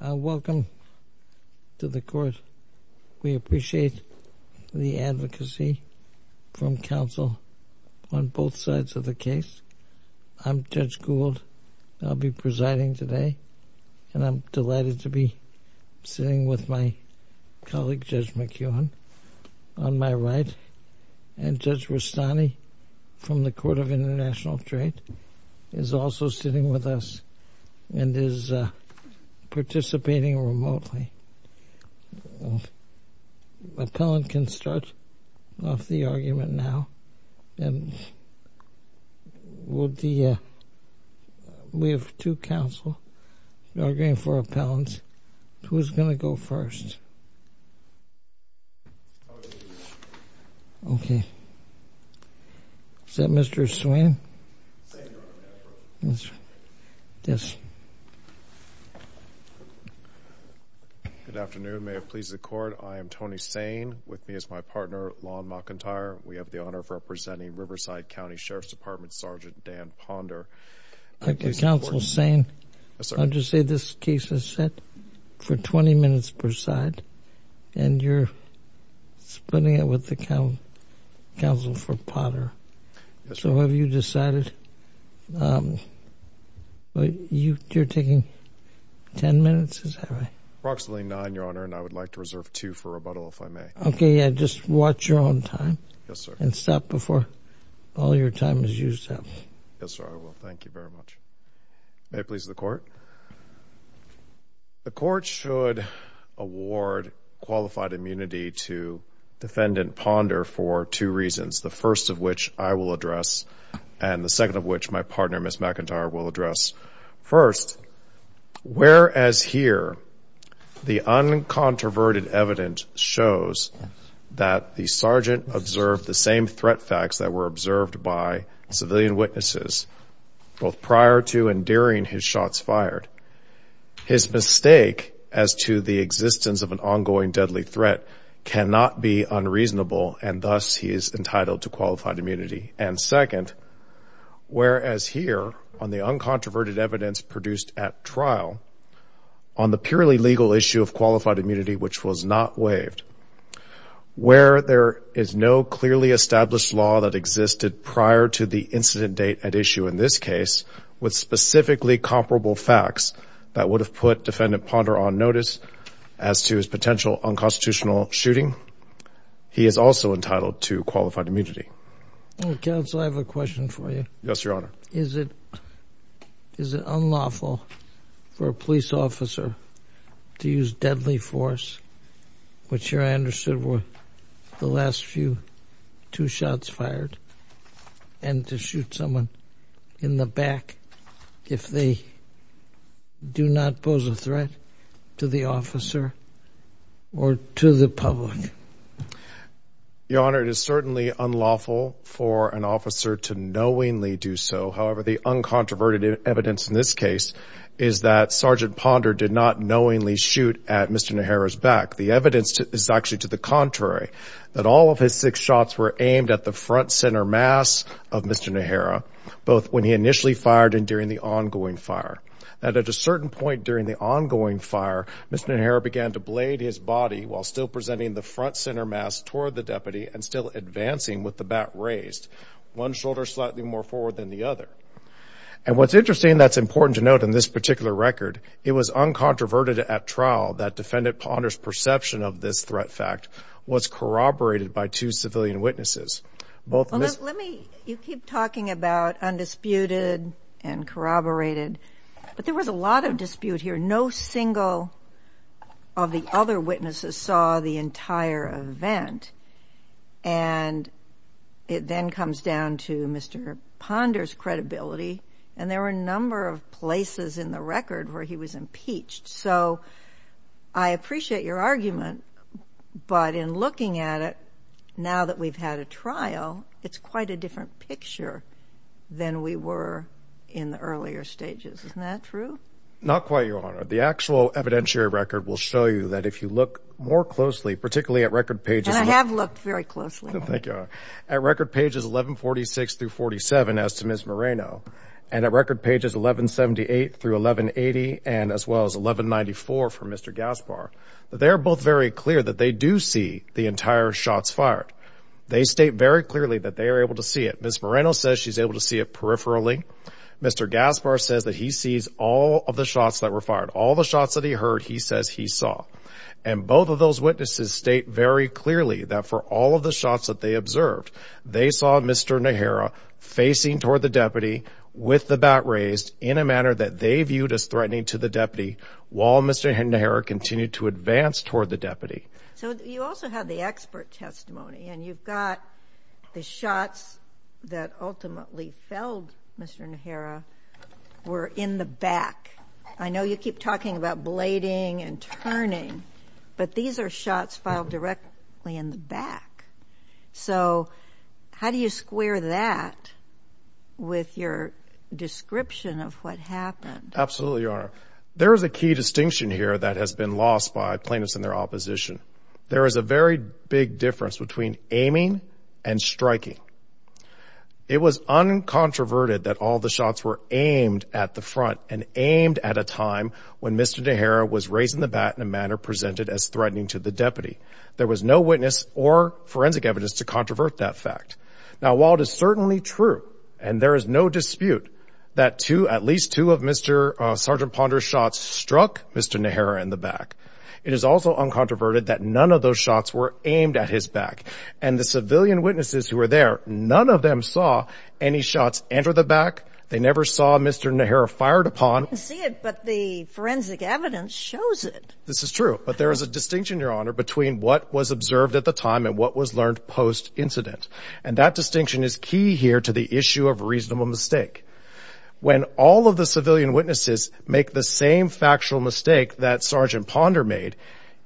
Welcome to the court. We appreciate the advocacy from counsel on both sides of the case. I'm Judge Gould. I'll be presiding today and I'm delighted to be sitting with my colleague Judge McEwan on my right and Judge Rustani from the Department of International Trade is also sitting with us and is participating remotely. Appellant can start off the argument now. We have two counsel arguing for appellants. Who's going to go first? Okay. Is that Mr. Swain? Yes. Good afternoon. May it please the court, I am Tony Sane with me as my partner Lon McIntyre. We have the honor of representing Riverside County Sheriff's Department Sergeant Dan Ponder. Counsel Sane, how do you say this case is set? For 20 minutes per side and you're splitting it with the counsel for Ponder. So have you decided? You're taking 10 minutes? Approximately nine, your honor, and I would like to reserve two for rebuttal if I may. Okay, yeah, just watch your own time. Yes, sir. And stop before all your time is used up. Yes, sir, I will. Thank you very much. May it please the court. The court should award qualified immunity to defendant Ponder for two reasons, the first of which I will address and the second of which my partner, Ms. McIntyre, will address. First, whereas here the uncontroverted evidence shows that the sergeant observed the were observed by civilian witnesses both prior to and during his shots fired, his mistake as to the existence of an ongoing deadly threat cannot be unreasonable and thus he is entitled to qualified immunity. And second, whereas here on the uncontroverted evidence produced at trial on the purely legal issue of qualified immunity which was not waived, where there is no clearly established law that existed prior to the incident date at issue in this case with specifically comparable facts that would have put defendant Ponder on notice as to his potential unconstitutional shooting, he is also entitled to qualified immunity. Counsel, I have a question for you. Yes, your honor. Is it unlawful for a police officer to use deadly force, which here I two shots fired, and to shoot someone in the back if they do not pose a threat to the officer or to the public? Your honor, it is certainly unlawful for an officer to knowingly do so. However, the uncontroverted evidence in this case is that Sergeant Ponder did not knowingly shoot at Mr. Nehara's back. The evidence is actually to the contrary, that all of his six shots were aimed at the front center mass of Mr. Nehara, both when he initially fired and during the ongoing fire. And at a certain point during the ongoing fire, Mr. Nehara began to blade his body while still presenting the front center mass toward the deputy and still advancing with the bat raised, one shoulder slightly more forward than the other. And what's interesting that's important to note in this particular record, it was uncontroverted at trial that defendant Ponder's perception of this threat fact was corroborated by two civilian witnesses. You keep talking about undisputed and corroborated, but there was a lot of dispute here. No single of the other witnesses saw the entire event. And it then comes down to Mr. Ponder's credibility, and there were a number of places in the record where he was impeached. So I appreciate your argument, but in looking at it, now that we've had a trial, it's quite a different picture than we were in the earlier stages. Isn't that true? Not quite, Your Honor. The actual evidentiary record will show you that if you look more closely, particularly at record pages... And I have looked very closely. Thank you, Your Honor. At record pages 1146 through 47, as to Ms. Moreno, and at record pages 1178 through 1180, and as well as 1194 for Mr. Gaspar, they're both very clear that they do see the entire shots fired. They state very clearly that they are able to see it. Ms. Moreno says she's able to see it peripherally. Mr. Gaspar says that he sees all of the shots that were fired. All the shots that he heard, he says he saw. And both of those witnesses state very clearly that for all of the shots that they observed, they saw Mr. Nehera facing toward the deputy with the bat raised in a manner that they viewed as threatening to the deputy, while Mr. Nehera continued to advance toward the So you also have the expert testimony, and you've got the shots that ultimately felled Mr. Nehera were in the back. I know you keep talking about blading and turning, but these are shots filed directly in the back. So how do you square that with your description of what happened? Absolutely, Your Honor. There's a key distinction here that has been lost by plaintiffs and their opposition. There is a very big difference between aiming and striking. It was uncontroverted that all the shots were aimed at the front and aimed at a time when Mr. Nehera was raising the bat in a manner presented as threatening to the deputy. There was no or forensic evidence to controvert that fact. Now, while it is certainly true, and there is no dispute that at least two of Mr. Sergeant Ponder's shots struck Mr. Nehera in the back, it is also uncontroverted that none of those shots were aimed at his back. And the civilian witnesses who were there, none of them saw any shots enter the back. They never saw Mr. Nehera fired upon. I didn't see it, but the forensic evidence shows it. This is true, but there is a distinction, Your Honor, between what was observed at the time and what was learned post-incident. And that distinction is key here to the issue of reasonable mistake. When all of the civilian witnesses make the same factual mistake that Sergeant Ponder made,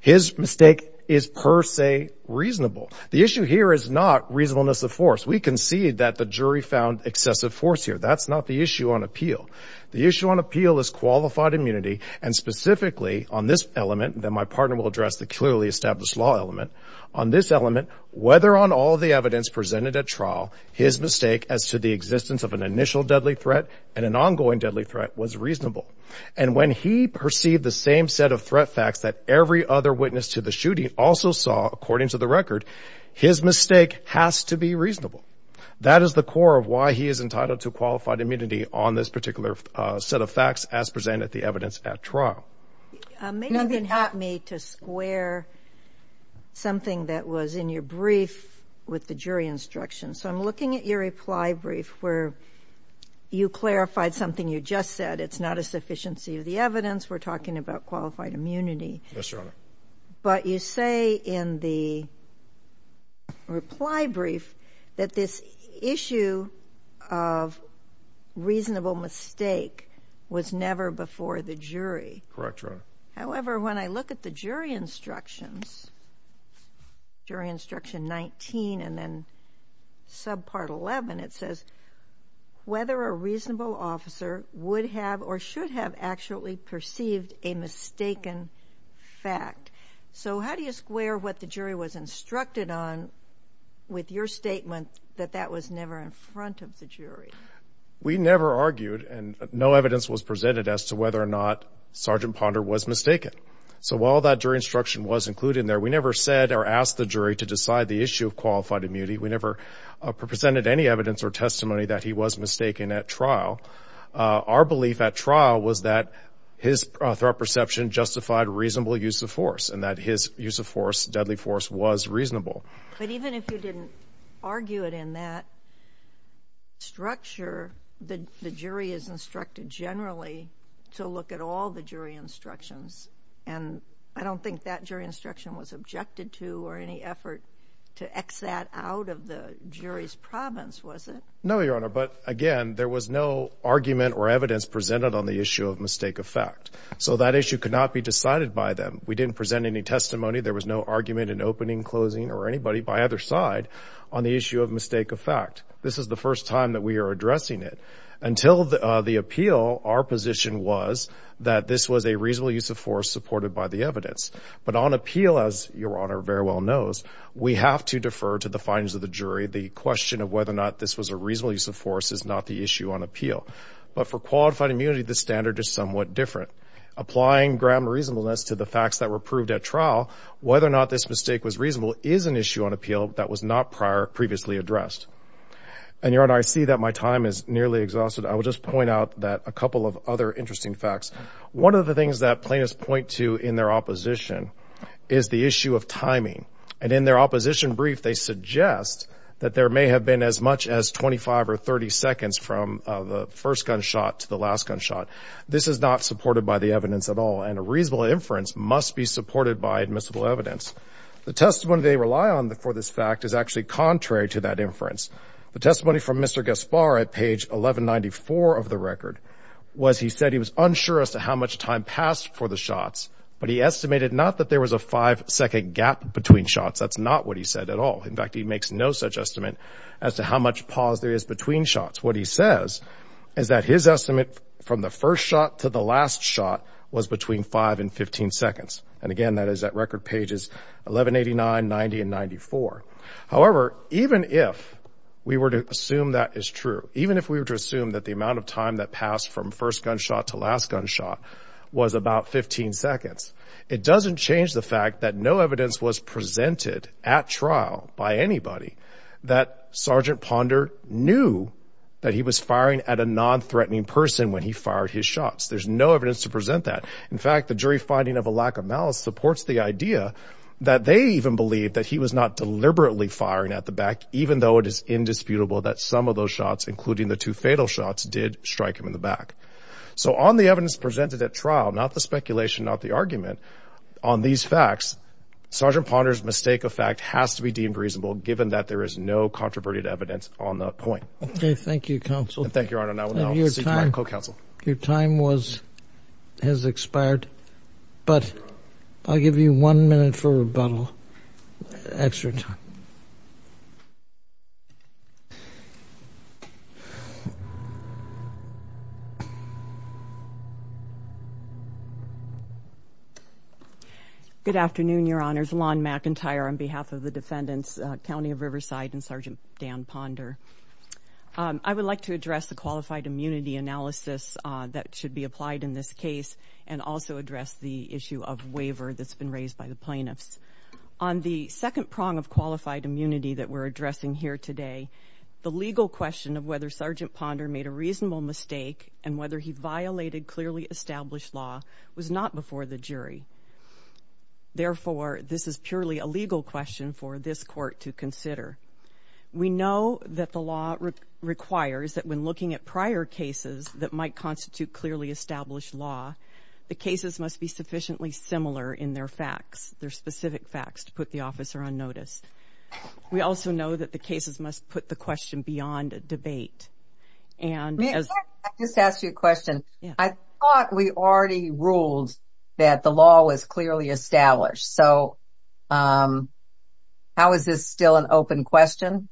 his mistake is per se reasonable. The issue here is not reasonableness of force. We concede that the jury found excessive force here. That's not the issue on appeal. The issue on appeal is qualified immunity, and specifically on this element, and then my partner will address the clearly established law element. On this element, whether on all the evidence presented at trial, his mistake as to the existence of an initial deadly threat and an ongoing deadly threat was reasonable. And when he perceived the same set of threat facts that every other witness to the shooting also saw, according to the record, his mistake has to be reasonable. That is the core of why he is entitled to qualified immunity on this particular set of facts as presented at the evidence at trial. Maybe you can help me to square something that was in your brief with the jury instruction. So I'm looking at your reply brief where you clarified something you just said. It's not a sufficiency of the evidence. We're talking about qualified immunity. Yes, Your Honor. But you say in the reply brief that this issue of reasonable mistake was never before the jury. Correct. However, when I look at the jury instructions, jury instruction 19 and then subpart 11, it says whether a reasonable officer would have or should have actually perceived a mistaken fact. So how do you square what the jury was instructed on with your statement that that was never in front of the jury? We never argued and no evidence was presented as to whether or not Sergeant Ponder was mistaken. So while that jury instruction was included in there, we never said or asked the jury to decide the issue of qualified immunity. We never presented any evidence or testimony that he was mistaken at trial. Our belief at trial was that his perception justified reasonable use of force and that his use of force deadly force was reasonable. But even if you didn't argue it in that structure, the jury is instructed generally to look at all the jury instructions. And I don't think that jury instruction was objected to or any effort to X that out of the jury's province, was it? No, Your Honor. But again, there was no argument or evidence presented on the issue of mistake of fact. So that issue could not be decided by them. We didn't present any testimony. There was no argument in opening, closing or anybody by either side on the issue of mistake of fact. This is the first time that we are addressing it until the appeal. Our position was that this was a reasonable use of force supported by the evidence. But on appeal, as Your Honor very well knows, we have to defer to the findings of the jury. The question of whether or not this was a reasonable use of force is not the issue on appeal. But for qualified immunity, the standard is somewhat different. Applying ground reasonableness to the facts that were proved at trial, whether or not this mistake was reasonable is an issue on appeal that was not prior previously addressed. And Your Honor, I see that my time is nearly exhausted. I will just point out that a couple of other interesting facts. One of the things that plaintiffs point to in their opposition is the issue of timing. And in their opposition brief, they suggest that there may have been as much as 25 or 30 seconds from the first gunshot to the last gunshot. This is not supported by the evidence at all. And a reasonable inference must be supported by admissible evidence. The testimony they rely on for this fact is actually contrary to that inference. The testimony from Mr. Gaspar at page 1194 of the record was he said he was unsure as to how much time passed for the shots, but he estimated not that there was a five second gap between shots. That's not what he said at all. In fact, he makes no such estimate as to how much pause there is between shots. What he says is that his estimate from the first shot to the last shot was between five and 15 seconds. And again, that is at record pages 1189, 90 and 94. However, even if we were to assume that is true, even if we were to assume that the amount of time that passed from first gunshot to last gunshot was about 15 seconds, it doesn't change the fact that no evidence was presented at trial by anybody that Sergeant Ponder knew that he was firing at a non-threatening person when he fired his shots. There's no evidence to present that. In fact, the jury finding of a lack of malice supports the idea that they even believe that he was not deliberately firing at the back, even though it is indisputable that some of those shots, including the two fatal shots, did strike him in the back. So on the evidence presented at trial, not the speculation, not the argument on these facts, Sergeant Ponder's mistake of fact has to be deemed reasonable, given that there is no controversial evidence on that point. OK, thank you, counsel. Thank you. Your time was has expired, but I'll give you one minute for rebuttal. Extra time. Good afternoon, Your Honors. Alonne McIntyre on behalf of the defendants, County of Riverside, and Sergeant Dan Ponder. I would like to address the qualified immunity analysis that should be applied in this case and also address the issue of waiver that's been raised by the plaintiffs. On the second prong of qualified immunity that we're addressing here today, the legal question of whether Sergeant Ponder made a reasonable mistake and whether he violated clearly established law was not before the jury. Therefore, this is purely a legal question for this court to consider. We know that the law requires that when looking at prior cases that might constitute clearly established law, the cases must be sufficiently similar in their facts, their specific facts to put the officer on notice. We also know that the cases must put the question beyond a debate. May I just ask you a question? I thought we already ruled that the law was clearly established, so how is this still an open question?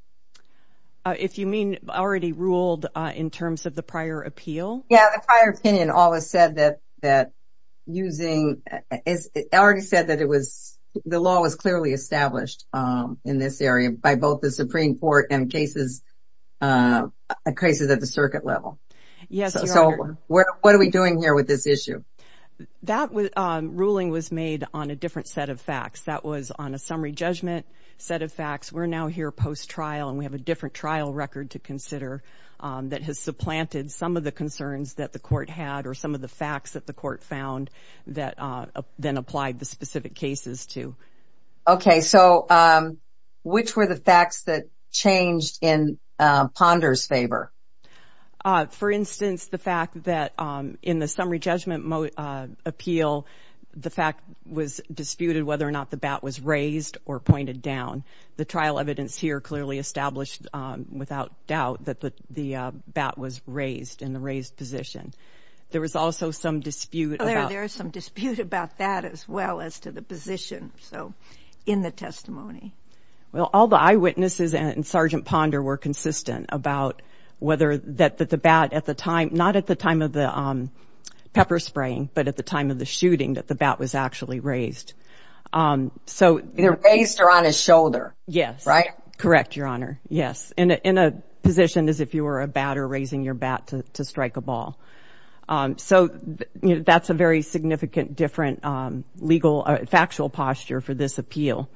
If you mean already ruled in terms of the prior appeal? Yeah, the prior opinion always said that the law was clearly established in this area by both the Supreme Court and cases at the circuit level. Yes, Your Honor. So what are we doing here with this issue? That ruling was made on a different set of facts. That was on a summary judgment set of facts. We're now here post-trial and we have a different trial record to consider that has supplanted some of the concerns that the court had or some of the facts that the court found that then applied the specific cases to. Okay, so which were the facts that changed in Ponder's favor? For instance, the fact that in the summary judgment appeal, the fact was disputed whether or not the bat was raised or pointed down. The trial evidence here clearly established without doubt that the bat was raised in the raised position. There was also some dispute. There is some dispute about that as well as to the position, so in the testimony. Well, all the eyewitnesses and Sgt. Ponder were consistent about whether that the bat at the time, not at the time of the pepper spraying, but at the time of the shooting that the bat was actually raised. Either raised or on his shoulder. Yes. Right? Correct, Your Honor. Yes. In a position as if you were a batter raising your bat to strike a ball. So that's a very significant different legal factual posture for this appeal.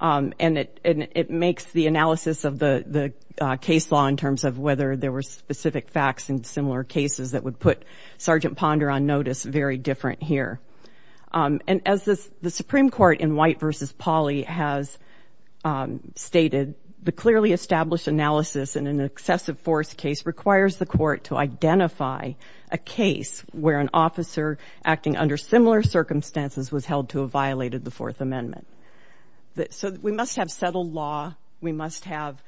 And it makes the analysis of the case law in terms of whether there were specific facts in similar cases that would put Sgt. Ponder on notice very different here. And as the Supreme Court in White v. Pauley has stated, the clearly established analysis in an excessive force case requires the court to identify a case where an officer acting under similar circumstances was held to have violated the Fourth Amendment. So we must have settled law, we must have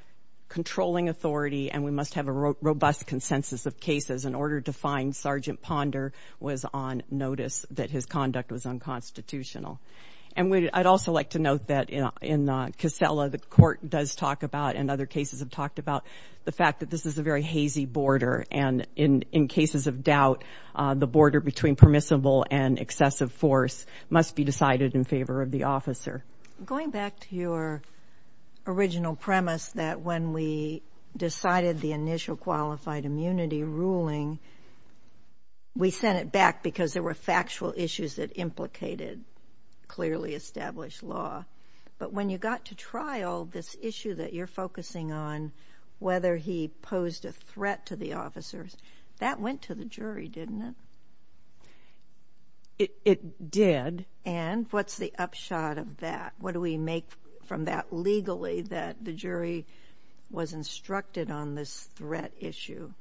controlling authority, and we must have a robust consensus of cases in order to find Sgt. Ponder was on notice that his conduct was unconstitutional. And I'd also like to note that in Casella, the court does talk about and other cases have talked about the fact that this is a very hazy border. And in cases of doubt, the border between permissible and excessive force must be decided in favor of the officer. Going back to your original premise that when we decided the initial qualified immunity ruling, we sent it back because there were factual issues that implicated clearly established law. But when you got to trial, this issue that you're focusing on, whether he posed a threat to the officers, that went to the jury, didn't it? It did. And what's the upshot of that? What do we make from that legally that the jury was instructed on this threat issue?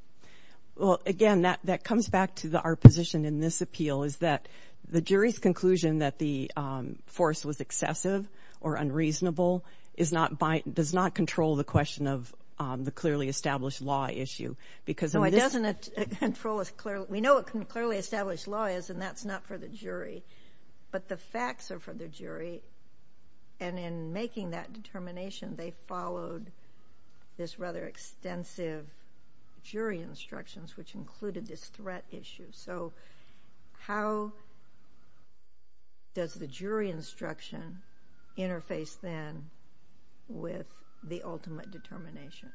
Well, again, that comes back to our position in this appeal is that the jury's conclusion that the force was excessive or unreasonable does not control the question of the clearly established law issue. We know what clearly established law is, and that's not for the jury, but the facts are for the jury. And in making that determination, they followed this rather extensive jury instructions, which included this threat issue. So how does the jury instruction interface then with the ultimate determination?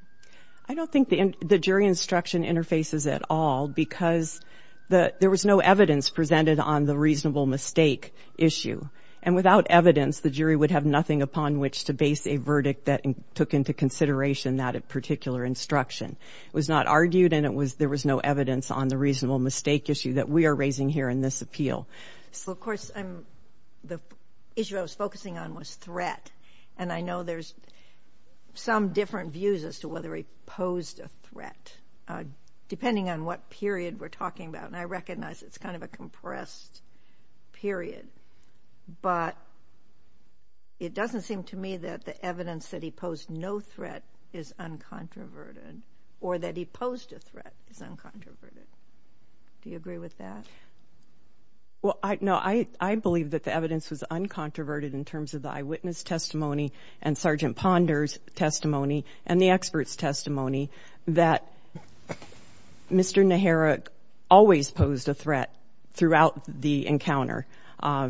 I don't think the jury instruction interfaces at all because there was no evidence presented on the reasonable mistake issue. And without evidence, the jury would have nothing upon which to base a verdict that took into consideration that particular instruction. It was not argued, and there was no evidence on the reasonable mistake issue that we are raising here in this appeal. So, of course, the issue I was focusing on was threat, and I know there's some different views as to whether he posed a threat, depending on what period we're talking about. And I recognize it's kind of a compressed period, but it doesn't seem to me that the evidence that he posed no threat is uncontroverted or that he posed a threat is uncontroverted. Do you agree with that? Well, no, I believe that the evidence was uncontroverted in terms of the eyewitness testimony and Sergeant Ponder's testimony and the expert's testimony that Mr. Nehera always posed a threat throughout the encounter,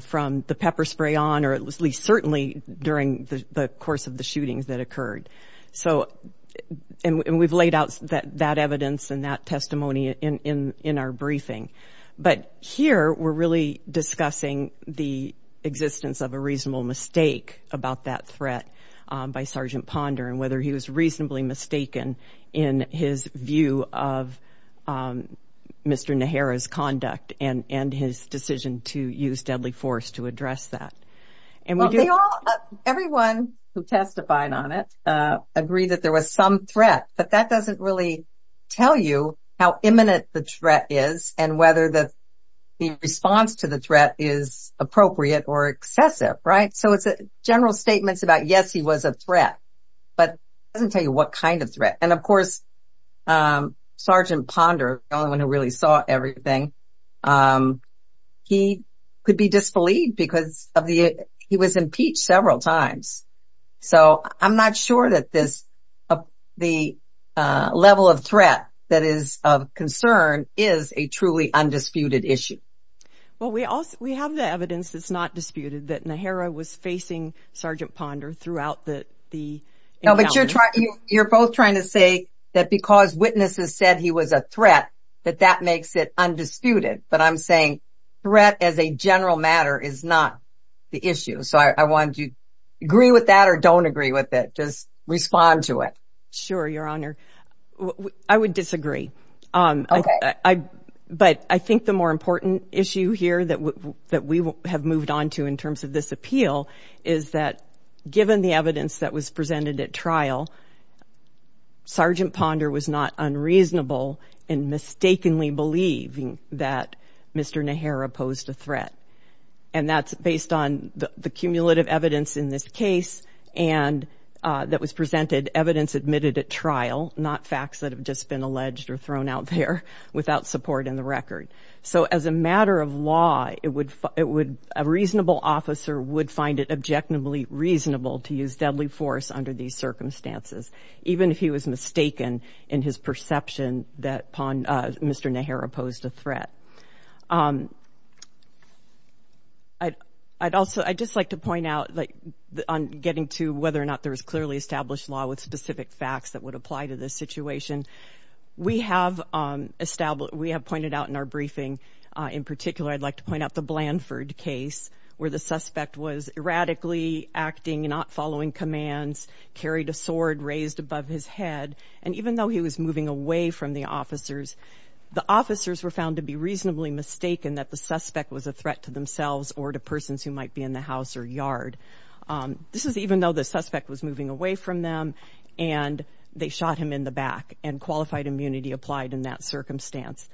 from the pepper spray on or at least certainly during the course of the shootings that occurred. And we've laid out that evidence and that testimony in our briefing. But here, we're really discussing the existence of a reasonable mistake about that threat by Sergeant Ponder and whether he was reasonably mistaken in his view of Mr. Nehera's conduct and his decision to use deadly force to address that. Everyone who testified on it agreed that there was some threat, but that doesn't really tell you how imminent the threat is and whether the response to the threat is appropriate or excessive, right? So it's a general statement about, yes, he was a threat, but it doesn't tell you what kind of threat. And of course, Sergeant Ponder, the only one who really saw everything, he could be disbelieved because he was impeached several times. So I'm not sure that the level of threat that is of concern is a truly undisputed issue. Well, we have the evidence that's not disputed, that Nehera was facing Sergeant Ponder throughout the encounter. No, but you're both trying to say that because witnesses said he was a threat, that that makes it undisputed. But I'm saying threat as a general matter is not the issue. So I want you to agree with that or don't agree with it. Just respond to it. Sure, Your Honor. I would disagree. But I think the more important issue here that we have moved on to in terms of this appeal is that given the evidence that was presented at trial, Sergeant Ponder was not unreasonable in mistakenly believing that Mr. Nehera posed a threat. And that's based on the cumulative evidence in this case and that was presented, evidence admitted at trial, not facts that have just been alleged or thrown out there without support in the record. So as a matter of law, a reasonable officer would find it objectively reasonable to use deadly force under these circumstances, even if he was mistaken in his perception that Mr. Nehera posed a threat. I'd just like to point out on getting to whether or not there is clearly established law with specific facts that would apply to this situation, we have pointed out in our briefing, in particular, I'd like to point out the Blanford case, where the suspect was erratically acting, not following commands, carried a sword raised above his head, and even though he was moving away from the officers, the officers were found to be reasonably mistaken that the suspect was a threat to themselves or to persons who might be in the house or yard. This is even though the suspect was moving away from them and they shot him in the back and qualified immunity applied in that circumstance.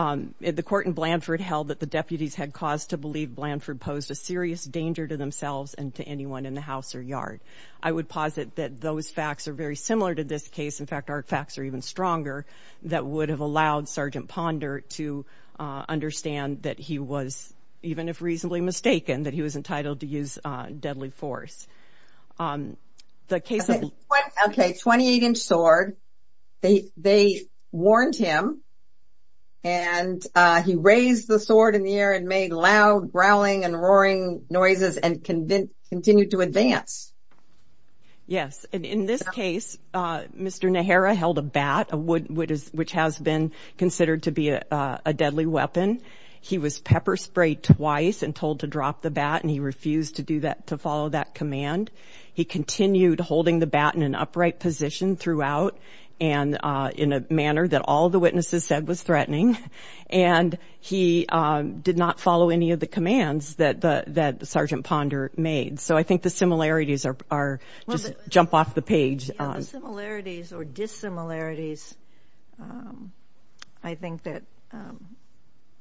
The court in Blanford held that the deputies had caused to believe Blanford posed a serious danger to themselves and to anyone in the house or yard. I would posit that those facts are very similar to this case. In fact, our facts are even stronger that would have allowed Sergeant Ponder to understand that he was, even if reasonably mistaken, that he was entitled to use deadly force. Okay, 28-inch sword. They warned him and he raised the sword in the air and made loud growling and roaring noises and continued to advance. Yes. In this case, Mr. Nehera held a bat, which has been considered to be a deadly weapon. He was pepper sprayed twice and told to drop the bat and he refused to do that, to follow that command. He continued holding the bat in an upright position throughout and in a manner that all the witnesses said was threatening and he did not follow any of the commands that Sergeant Ponder made. So I think the similarities are just jump off the page. The similarities or dissimilarities I think that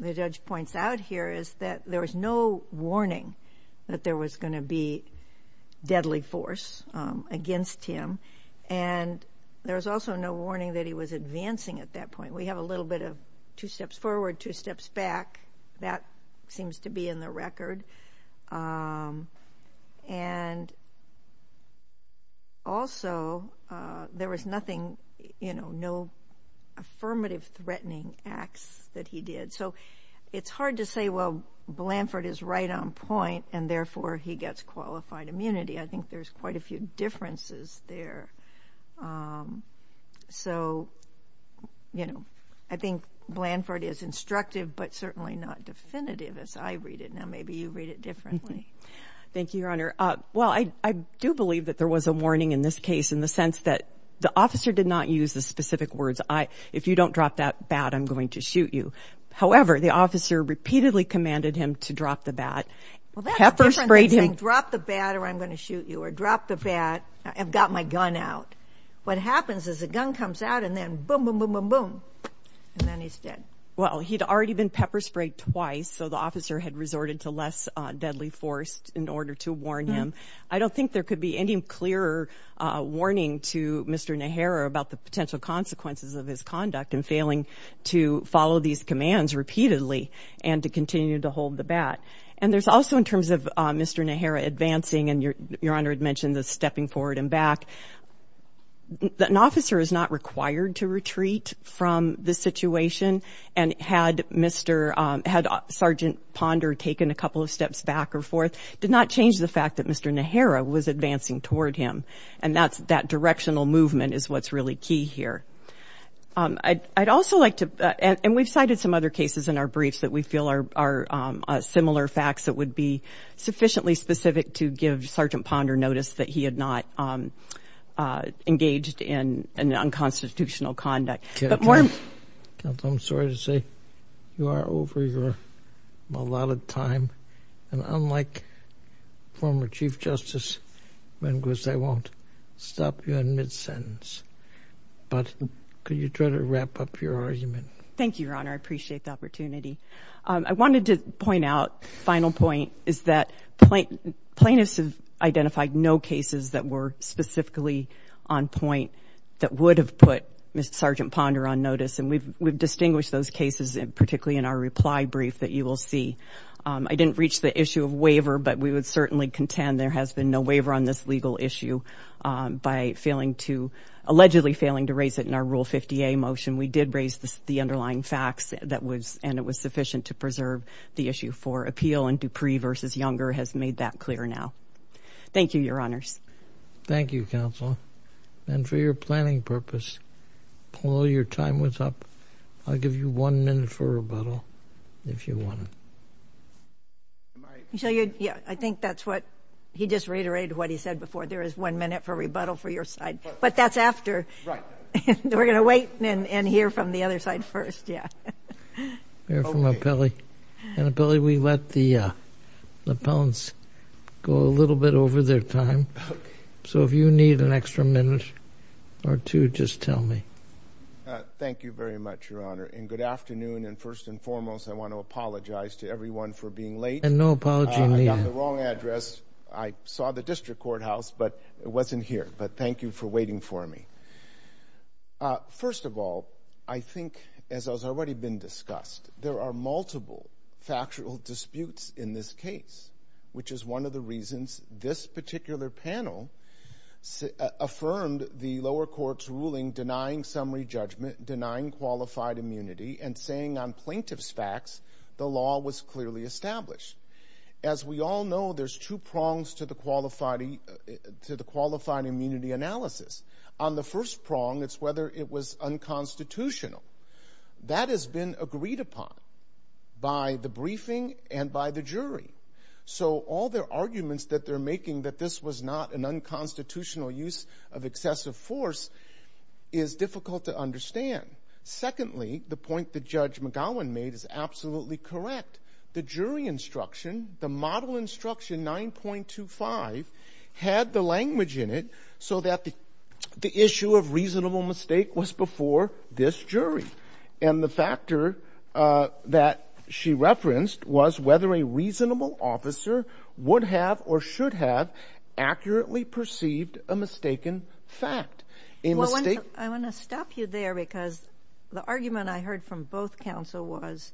the judge points out here is that there was no warning that there was going to be deadly force against him and there was also no warning that he was advancing at that point. We have a little bit of two steps forward, two steps back. That seems to be in the record. And also, there was nothing, you know, no affirmative threatening acts that he did. So it's hard to say, well, Blanford is right on point and therefore he gets qualified immunity. I think there's quite a few differences there. So, you know, I think Blanford is instructive but certainly not definitive as I read it. Now maybe you read it differently. Thank you, Your Honor. Well, I do believe that there was a warning in this case in the sense that the officer did not use the specific words, if you don't drop that bat, I'm going to shoot you. However, the officer repeatedly commanded him to drop the bat. Well, that's different than saying drop the bat or I'm going to shoot you or drop the bat, I've got my gun out. What happens is the gun comes out and then boom, boom, boom, boom, boom, and then he's dead. Well, he'd already been pepper sprayed twice, so the officer had resorted to less deadly force in order to warn him. I don't think there could be any clearer warning to Mr. Nehera about the potential consequences of his conduct in failing to follow these commands repeatedly and to continue to hold the bat. And there's also, in terms of Mr. Nehera advancing, and Your Honor had mentioned the stepping forward and back, an officer is not required to retreat from the situation and had Sergeant Ponder taken a couple of steps back or forth, did not change the fact that Mr. Nehera was advancing toward him, and that directional movement is what's really key here. I'd also like to, and we've cited some other cases in our briefs that we feel are similar facts that would be sufficiently specific to give Sergeant Ponder notice that he had not engaged in unconstitutional conduct. Counsel, I'm sorry to say you are over your allotted time, and unlike former Chief Justice Menges, I won't stop you in mid-sentence. But could you try to wrap up your argument? Thank you, Your Honor. I appreciate the opportunity. I wanted to point out, final point, is that plaintiffs have identified no cases that were specifically on point that would have put Mr. Sergeant Ponder on notice, and we've distinguished those cases particularly in our reply brief that you will see. I didn't reach the issue of waiver, but we would certainly contend there has been no waiver on this legal issue by failing to, allegedly failing to raise it in our Rule 50A motion. We did raise the underlying facts, and it was sufficient to preserve the issue for appeal, and Dupree v. Younger has made that clear now. Thank you, Your Honors. Thank you, Counsel. And for your planning purpose, while your time was up, I'll give you one minute for rebuttal, if you want. I think that's what he just reiterated what he said before. There is one minute for rebuttal for your side, but that's after. Right. We're going to wait and hear from the other side first, yeah. Hear from Appellee. And, Appellee, we let the appellants go a little bit over their time, so if you need an extra minute or two, just tell me. Thank you very much, Your Honor, and good afternoon. And first and foremost, I want to apologize to everyone for being late. And no apology needed. I got the wrong address. I saw the district courthouse, but it wasn't here. But thank you for waiting for me. First of all, I think, as has already been discussed, there are multiple factual disputes in this case, which is one of the reasons this particular panel affirmed the lower court's ruling denying summary judgment, denying qualified immunity, and saying on plaintiff's facts the law was clearly established. As we all know, there's two prongs to the qualified immunity analysis. On the first prong, it's whether it was unconstitutional. That has been agreed upon by the briefing and by the jury. So all their arguments that they're making, that this was not an unconstitutional use of excessive force, is difficult to understand. Secondly, the point that Judge McGowan made is absolutely correct. The jury instruction, the model instruction 9.25, had the language in it so that the issue of reasonable mistake was before this jury. And the factor that she referenced was whether a reasonable officer would have or should have accurately perceived a mistaken fact. I want to stop you there because the argument I heard from both counsel was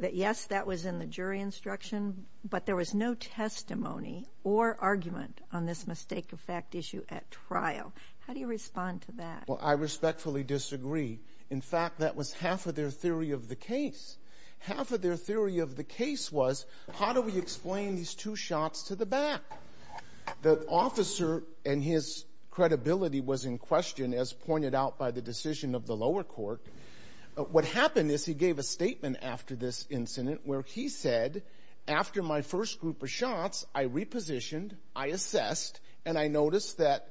that, yes, that was in the jury instruction, but there was no testimony or argument on this mistake of fact issue at trial. How do you respond to that? Well, I respectfully disagree. In fact, that was half of their theory of the case. Half of their theory of the case was, how do we explain these two shots to the back? The officer and his credibility was in question, as pointed out by the decision of the lower court. What happened is he gave a statement after this incident where he said, after my first group of shots, I repositioned, I assessed, and I noticed that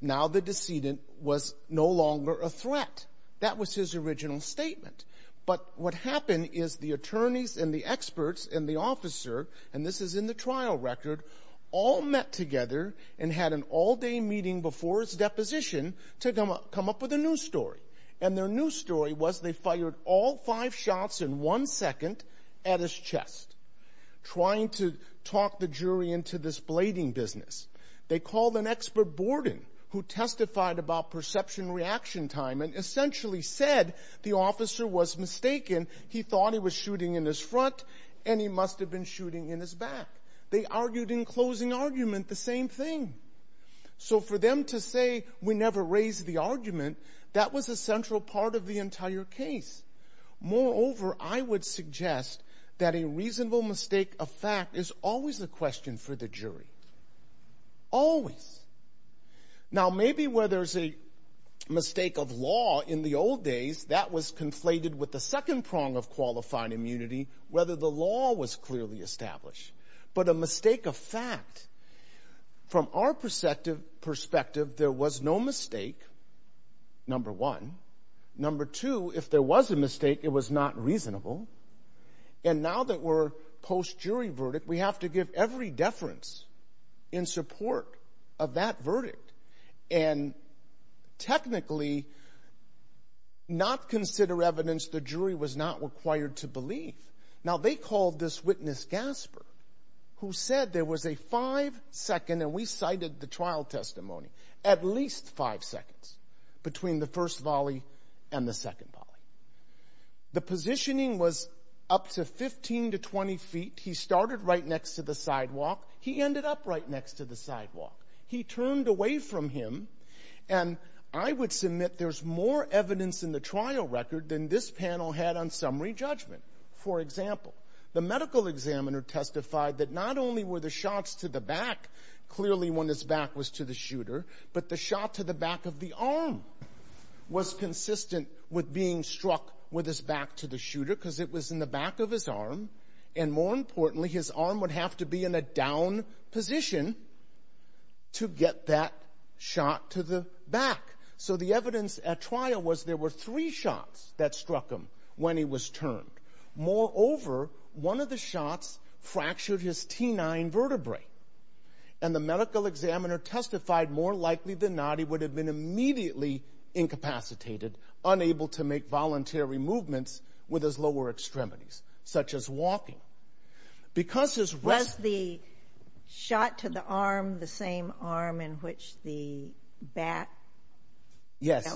now the decedent was no longer a threat. That was his original statement. But what happened is the attorneys and the experts and the officer, and this is in the trial record, all met together and had an all-day meeting before his deposition to come up with a new story. And their new story was they fired all five shots in one second at his chest, trying to talk the jury into this blading business. They called an expert, Borden, who testified about perception reaction time and essentially said the officer was mistaken. He thought he was shooting in his front, and he must have been shooting in his back. They argued in closing argument the same thing. So for them to say, we never raised the argument, that was a central part of the entire case. Moreover, I would suggest that a reasonable mistake of fact is always a question for the jury. Always. Now maybe where there's a mistake of law in the old days, that was conflated with the second prong of qualified immunity, whether the law was clearly established. But a mistake of fact, from our perspective, there was no mistake, number one. Number two, if there was a mistake, it was not reasonable. And now that we're post-jury verdict, we have to give every deference in support of that verdict and technically not consider evidence the jury was not required to believe. Now they called this witness, Gasper, who said there was a five-second, and we cited the trial testimony, at least five seconds between the first volley and the second volley. The positioning was up to 15 to 20 feet. He started right next to the sidewalk. He ended up right next to the sidewalk. He turned away from him, and I would submit there's more evidence in the trial record than this panel had on summary judgment. For example, the medical examiner testified that not only were the shots to the back, clearly when his back was to the shooter, but the shot to the back of the arm was consistent with being struck with his back to the shooter because it was in the back of his arm, and more importantly, his arm would have to be in a down position to get that shot to the back. So the evidence at trial was there were three shots that struck him when he was turned. Moreover, one of the shots fractured his T9 vertebrae, and the medical examiner testified more likely than not he would have been immediately incapacitated, unable to make voluntary movements with his lower extremities, such as walking. Was the shot to the arm the same arm in which the bat fell? Yes.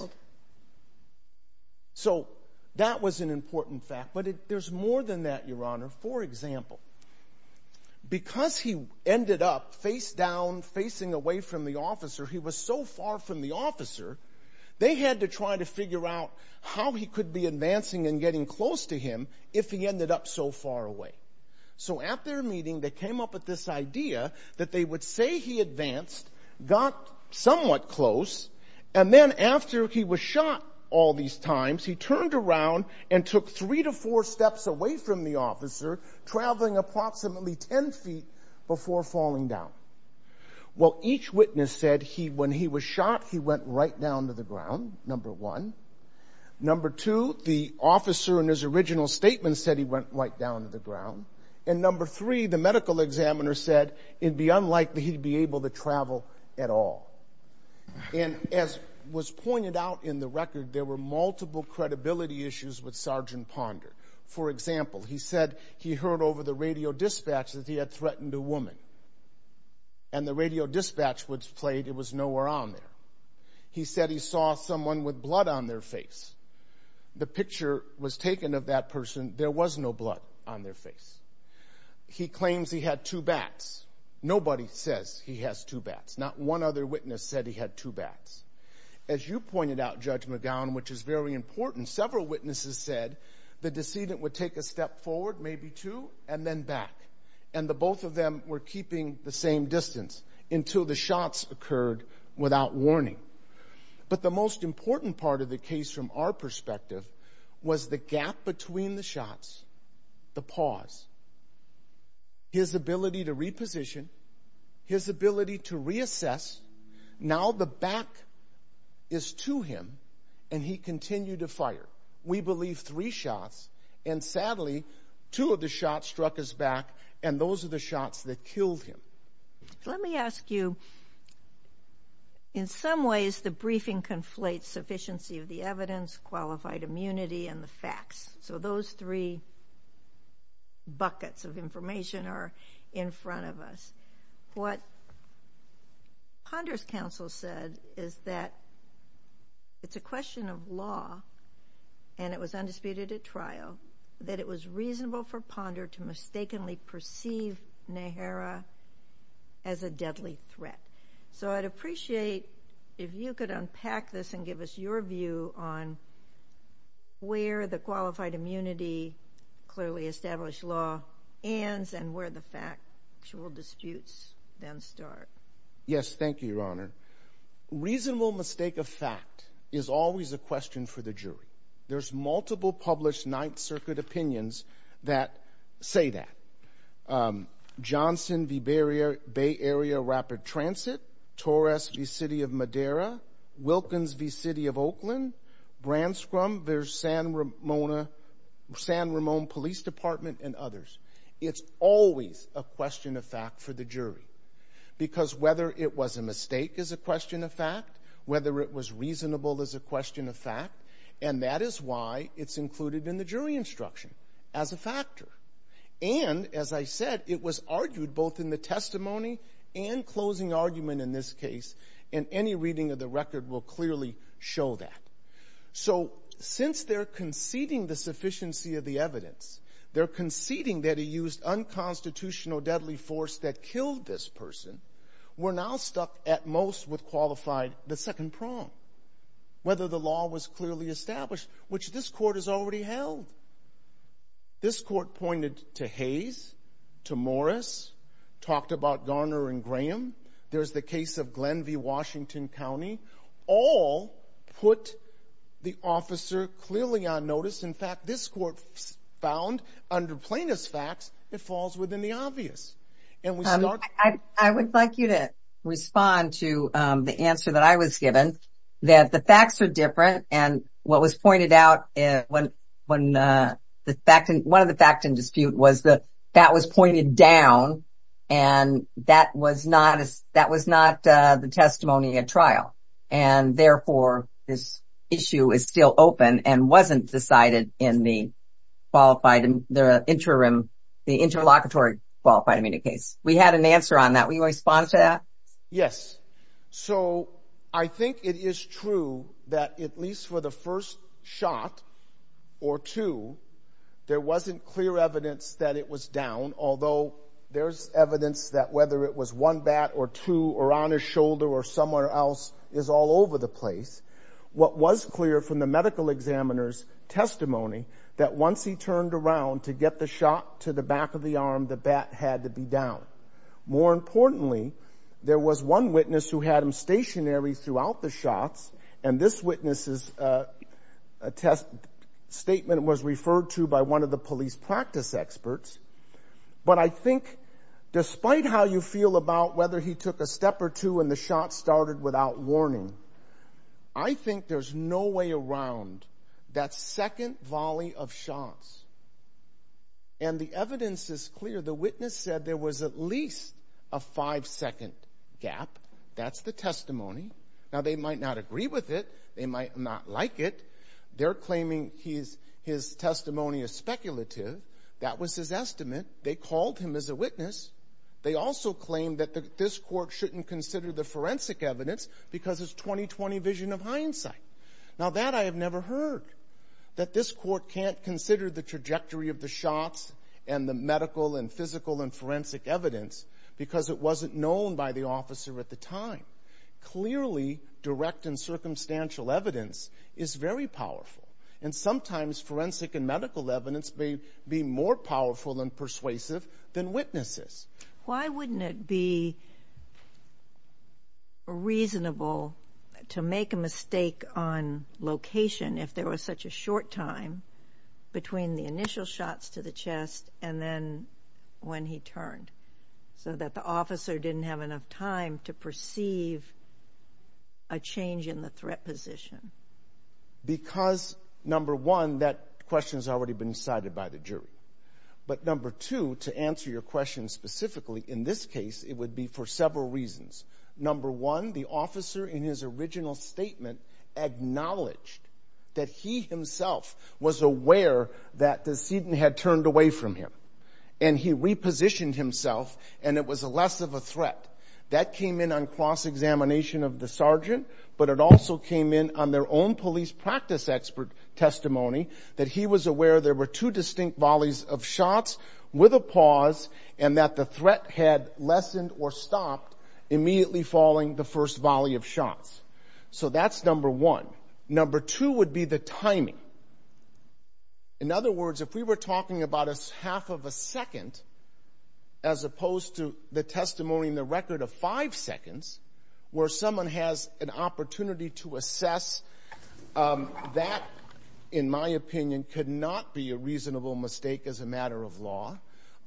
So that was an important fact. But there's more than that, Your Honor. For example, because he ended up face down, facing away from the officer, he was so far from the officer, they had to try to figure out how he could be advancing and getting close to him if he ended up so far away. So at their meeting, they came up with this idea that they would say he advanced, got somewhat close, and then after he was shot all these times, he turned around and took three to four steps away from the officer, traveling approximately 10 feet before falling down. Well, each witness said when he was shot, he went right down to the ground, number one. Number two, the officer in his original statement said he went right down to the ground. And number three, the medical examiner said it'd be unlikely he'd be able to travel at all. And as was pointed out in the record, there were multiple credibility issues with Sergeant Ponder. For example, he said he heard over the radio dispatch that he had threatened a woman. And the radio dispatch which played, it was nowhere on there. He said he saw someone with blood on their face. The picture was taken of that person. There was no blood on their face. He claims he had two bats. Nobody says he has two bats. Not one other witness said he had two bats. As you pointed out, Judge McGowan, which is very important, several witnesses said the decedent would take a step forward, maybe two, and then back. And the both of them were keeping the same distance until the shots occurred without warning. But the most important part of the case from our perspective was the gap between the shots, the pause. His ability to reposition, his ability to reassess. Now the back is to him, and he continued to fire. We believe three shots. And sadly, two of the shots struck his back, and those are the shots that killed him. Let me ask you, in some ways the briefing conflates sufficiency of the evidence, qualified immunity, and the facts. So those three buckets of information are in front of us. What Ponder's counsel said is that it's a question of law, and it was undisputed at trial, that it was reasonable for Ponder to mistakenly perceive Nehara as a deadly threat. So I'd appreciate if you could unpack this and give us your view on where the qualified immunity, clearly established law ends, and where the factual disputes then start. Yes, thank you, Your Honor. Reasonable mistake of fact is always a question for the jury. There's multiple published Ninth Circuit opinions that say that. Johnson v. Bay Area Rapid Transit, Torres v. City of Madera, Wilkins v. City of Oakland, Branscrum v. San Ramon Police Department, and others. It's always a question of fact for the jury, because whether it was a mistake is a question of fact, whether it was reasonable is a question of fact, and that is why it's included in the jury instruction, as a factor. And, as I said, it was argued both in the testimony and closing argument in this case, and any reading of the record will clearly show that. So since they're conceding the sufficiency of the evidence, they're conceding that he used unconstitutional deadly force that killed this person, we're now stuck at most with qualified the second prong, whether the law was clearly established, which this Court has already held. This Court pointed to Hayes, to Morris, talked about Garner and Graham. There's the case of Glenview, Washington County. All put the officer clearly on notice. In fact, this Court found, under plaintiff's facts, it falls within the obvious. I would like you to respond to the answer that I was given, that the facts are different, and what was pointed out in one of the fact and dispute was that that was pointed down, and that was not the testimony at trial, and therefore this issue is still open and wasn't decided in the interlocutory qualified amenity case. We had an answer on that. Will you respond to that? Yes. So I think it is true that, at least for the first shot or two, there wasn't clear evidence that it was down, although there's evidence that whether it was one bat or two or on his shoulder or somewhere else is all over the place. What was clear from the medical examiner's testimony, that once he turned around to get the shot to the back of the arm, the bat had to be down. More importantly, there was one witness who had him stationary throughout the shots, and this witness's statement was referred to by one of the police practice experts. But I think, despite how you feel about whether he took a step or two and the shot started without warning, I think there's no way around that second volley of shots. And the evidence is clear. The witness said there was at least a five-second gap. That's the testimony. Now, they might not agree with it. They might not like it. They're claiming his testimony is speculative. That was his estimate. They called him as a witness. They also claim that this court shouldn't consider the forensic evidence because it's 20-20 vision of hindsight. Now, that I have never heard, that this court can't consider the trajectory of the shots and the medical and physical and forensic evidence because it wasn't known by the officer at the time. Clearly, direct and circumstantial evidence is very powerful, and sometimes forensic and medical evidence may be more powerful and persuasive than witnesses. Why wouldn't it be reasonable to make a mistake on location if there was such a short time between the initial shots to the chest and then when he turned, so that the officer didn't have enough time to perceive a change in the threat position? Because, number one, that question's already been decided by the jury. But, number two, to answer your question specifically, in this case, it would be for several reasons. Number one, the officer in his original statement acknowledged that he himself was aware that the sedent had turned away from him, and he repositioned himself, and it was less of a threat. That came in on cross-examination of the sergeant, but it also came in on their own police practice expert testimony that he was aware there were two distinct volleys of shots with a pause and that the threat had lessened or stopped, immediately following the first volley of shots. So that's number one. Number two would be the timing. In other words, if we were talking about half of a second, as opposed to the testimony in the record of five seconds, where someone has an opportunity to assess, that, in my opinion, could not be a reasonable mistake as a matter of law.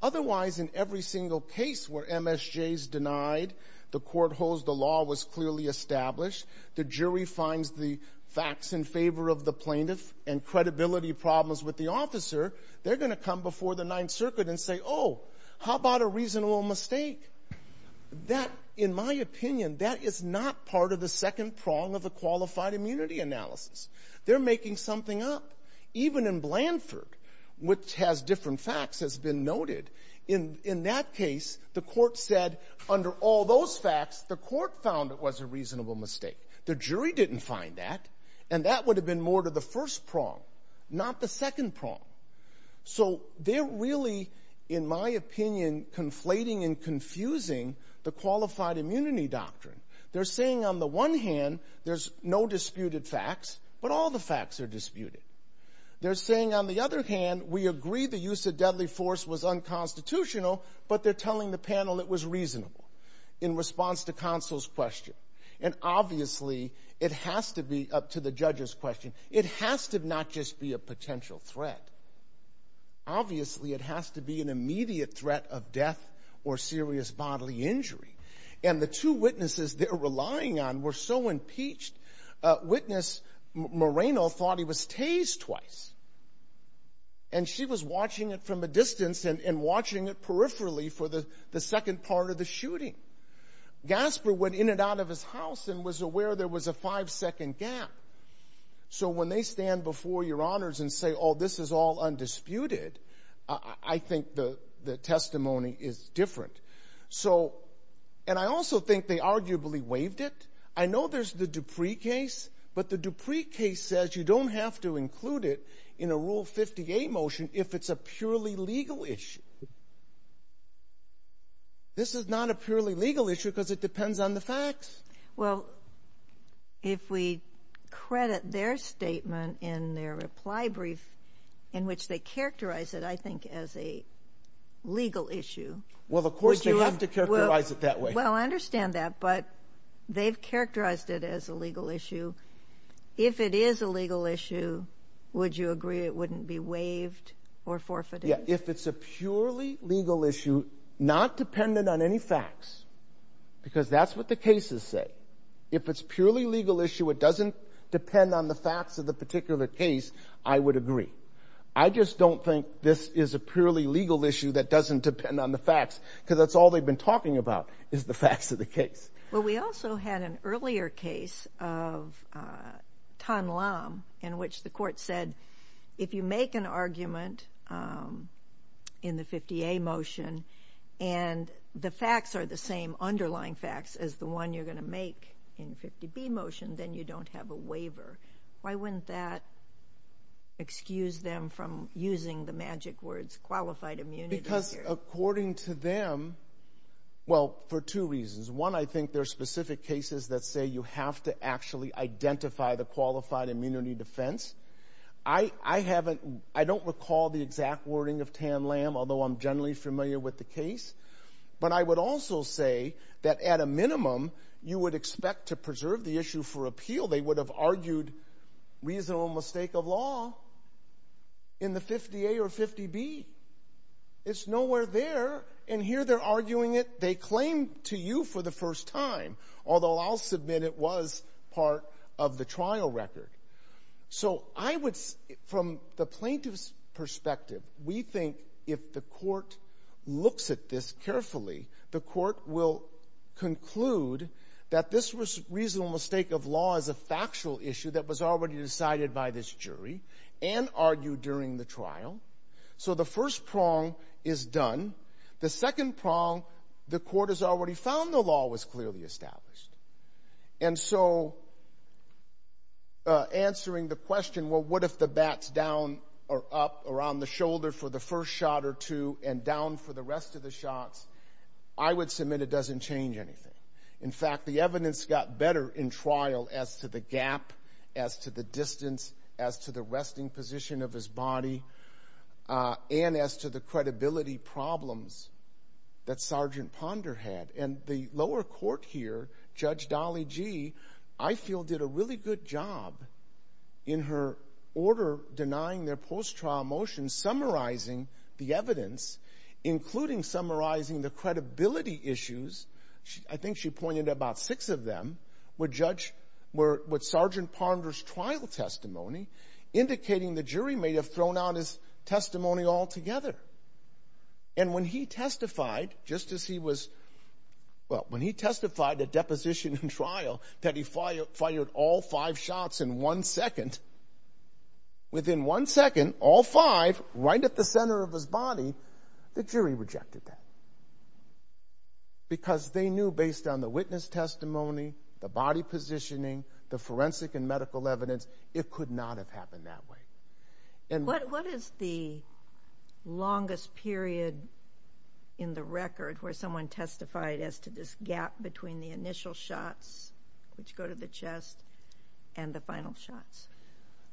Otherwise, in every single case where MSJ is denied, the court holds the law was clearly established, the jury finds the facts in favor of the plaintiff, and credibility problems with the officer, they're going to come before the Ninth Circuit and say, oh, how about a reasonable mistake? That, in my opinion, that is not part of the second prong of a qualified immunity analysis. They're making something up. Even in Blanford, which has different facts, has been noted. In that case, the court said, under all those facts, the court found it was a reasonable mistake. The jury didn't find that, and that would have been more to the first prong, not the second prong. So they're really, in my opinion, conflating and confusing the qualified immunity doctrine. They're saying, on the one hand, there's no disputed facts, but all the facts are disputed. They're saying, on the other hand, we agree the use of deadly force was unconstitutional, but they're telling the panel it was reasonable. In response to counsel's question. And obviously, it has to be, up to the judge's question, it has to not just be a potential threat. Obviously, it has to be an immediate threat of death or serious bodily injury. And the two witnesses they're relying on were so impeached. Witness Moreno thought he was tased twice. And she was watching it from a distance and watching it peripherally for the second part of the shooting. Gasper went in and out of his house and was aware there was a five-second gap. So when they stand before your honors and say, oh, this is all undisputed, I think the testimony is different. And I also think they arguably waived it. I know there's the Dupree case, but the Dupree case says you don't have to include it in a Rule 58 motion if it's a purely legal issue. This is not a purely legal issue because it depends on the facts. Well, if we credit their statement in their reply brief, in which they characterize it, I think, as a legal issue. Well, of course, they have to characterize it that way. Well, I understand that, but they've characterized it as a legal issue. If it is a legal issue, would you agree it wouldn't be waived or forfeited? Yeah, if it's a purely legal issue, not dependent on any facts, because that's what the cases say. If it's a purely legal issue, it doesn't depend on the facts of the particular case, I would agree. I just don't think this is a purely legal issue that doesn't depend on the facts because that's all they've been talking about is the facts of the case. Well, we also had an earlier case of Tan Lam in which the court said if you make an argument in the 50A motion and the facts are the same underlying facts as the one you're going to make in the 50B motion, then you don't have a waiver. Why wouldn't that excuse them from using the magic words qualified immunity here? Because according to them, well, for two reasons. One, I think there are specific cases that say you have to actually identify the qualified immunity defense. I don't recall the exact wording of Tan Lam, although I'm generally familiar with the case. But I would also say that at a minimum, you would expect to preserve the issue for appeal. They would have argued reasonable mistake of law in the 50A or 50B. It's nowhere there, and here they're arguing it. They claim to you for the first time, although I'll submit it was part of the trial record. So from the plaintiff's perspective, we think if the court looks at this carefully, the court will conclude that this reasonable mistake of law is a factual issue that was already decided by this jury and argued during the trial. So the first prong is done. The second prong, the court has already found the law was clearly established. And so answering the question, well, what if the bat's down or up or on the shoulder for the first shot or two and down for the rest of the shots, I would submit it doesn't change anything. In fact, the evidence got better in trial as to the gap, as to the distance, as to the resting position of his body, and as to the credibility problems that Sergeant Ponder had. And the lower court here, Judge Dolly Gee, I feel did a really good job in her order denying their post-trial motions, summarizing the evidence, including summarizing the credibility issues. I think she pointed to about six of them with Sergeant Ponder's trial testimony, indicating the jury may have thrown out his testimony altogether. And when he testified, just as he was... Well, when he testified at deposition and trial that he fired all five shots in one second, within one second, all five, right at the center of his body, the jury rejected that. Because they knew, based on the witness testimony, the body positioning, the forensic and medical evidence, it could not have happened that way. What is the longest period in the record where someone testified as to this gap between the initial shots, which go to the chest, and the final shots?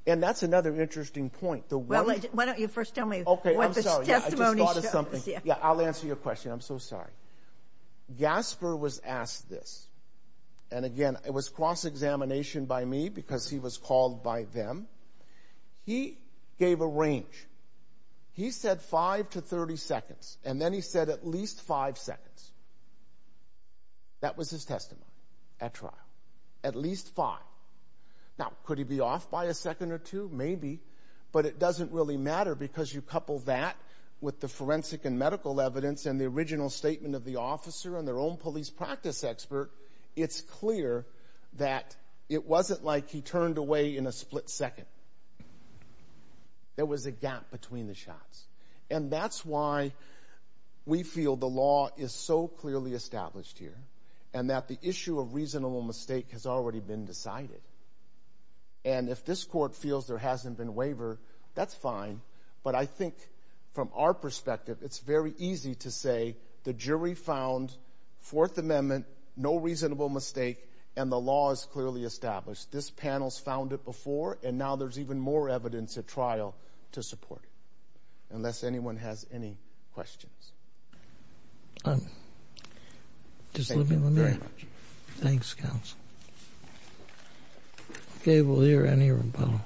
And that's another interesting point. Why don't you first tell me what this testimony shows? I'll answer your question. I'm so sorry. Gasper was asked this. And again, it was cross-examination by me because he was called by them. He gave a range. He said five to 30 seconds. And then he said at least five seconds. That was his testimony at trial. At least five. Now, could he be off by a second or two? Maybe. But it doesn't really matter because you couple that with the forensic and medical evidence and the original statement of the officer and their own police practice expert, it's clear that it wasn't like he turned away in a split second. There was a gap between the shots. And that's why we feel the law is so clearly established here and that the issue of reasonable mistake has already been decided. And if this court feels there hasn't been a waiver, that's fine. But I think from our perspective, it's very easy to say the jury found Fourth Amendment, no reasonable mistake, and the law is clearly established. This panel's found it before, and now there's even more evidence at trial to support it, unless anyone has any questions. All right. Just let me look at it. Thanks, counsel. Okay, we'll hear any rebuttal.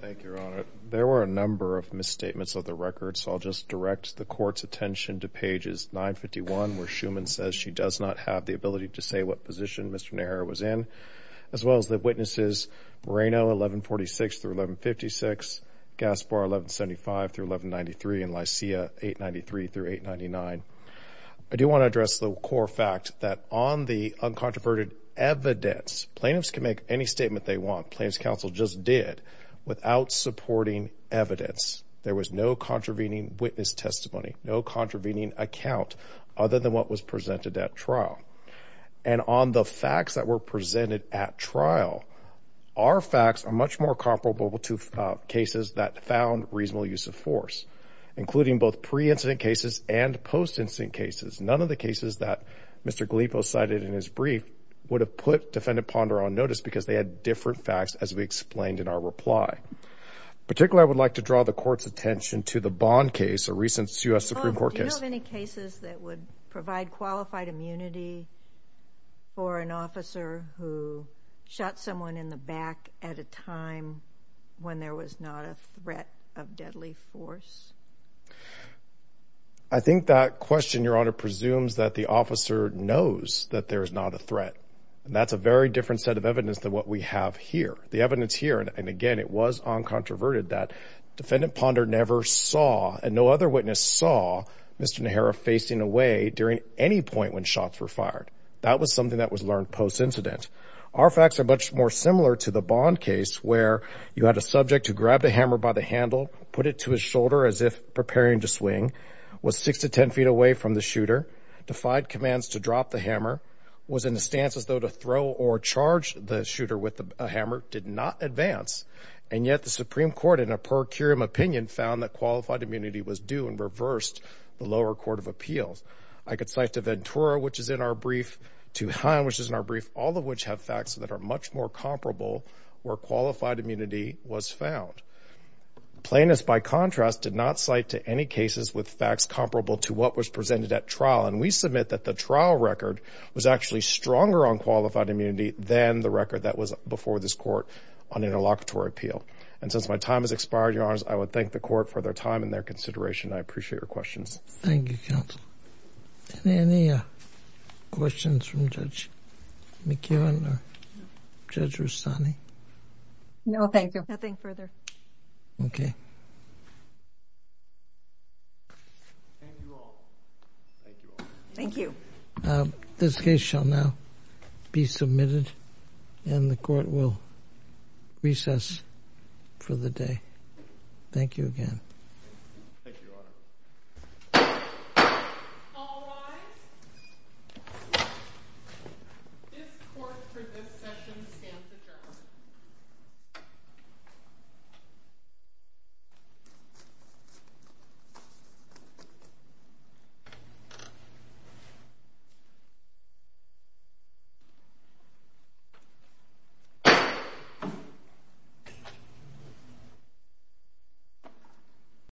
Thank you, Your Honor. There were a number of misstatements of the record, so I'll just direct the court's attention to pages 951, where Shuman says she does not have the ability to say what position Mr. Naira was in, as well as the witnesses Moreno, 1146-1156, Gaspar, 1175-1193, and Lysia, 893-899. I do want to address the core fact that on the uncontroverted evidence, plaintiffs can make any statement they want, plaintiffs' counsel just did, without supporting evidence. There was no contravening witness testimony, no contravening account other than what was presented at trial. And on the facts that were presented at trial, our facts are much more comparable to cases that found reasonable use of force, including both pre-incident cases and post-incident cases. None of the cases that Mr. Galipo cited in his brief would have put Defendant Ponder on notice because they had different facts, as we explained in our reply. Particularly, I would like to draw the Court's attention to the Bond case, a recent U.S. Supreme Court case. Do you have any cases that would provide qualified immunity for an officer who shot someone in the back at a time when there was not a threat of deadly force? I think that question, Your Honor, presumes that the officer knows that there is not a threat. And that's a very different set of evidence than what we have here. The evidence here, and again, it was uncontroverted, that Defendant Ponder never saw, and no other witness saw, Mr. Nehera facing away during any point when shots were fired. That was something that was learned post-incident. Our facts are much more similar to the Bond case, where you had a subject who grabbed a hammer by the handle, put it to his shoulder as if preparing to swing, was 6 to 10 feet away from the shooter, defied commands to drop the hammer, was in a stance as though to throw or charge the shooter with a hammer, did not advance. And yet the Supreme Court, in a per curiam opinion, found that qualified immunity was due and reversed the lower court of appeals. I could cite to Ventura, which is in our brief, to Haim, which is in our brief, all of which have facts that are much more comparable where qualified immunity was found. Plaintiffs, by contrast, did not cite to any cases with facts comparable to what was presented at trial. And we submit that the trial record was actually stronger on qualified immunity than the record that was before this court on interlocutory appeal. And since my time has expired, Your Honors, I would thank the court for their time and their consideration. I appreciate your questions. Thank you, counsel. Any questions from Judge McKibbin or Judge Rustani? No, thank you. Nothing further. Okay. Thank you all. This case shall now be submitted and the court will recess for the day. Thank you again. Thank you, Your Honor. All rise. This court for this session stands adjourned. Thank you.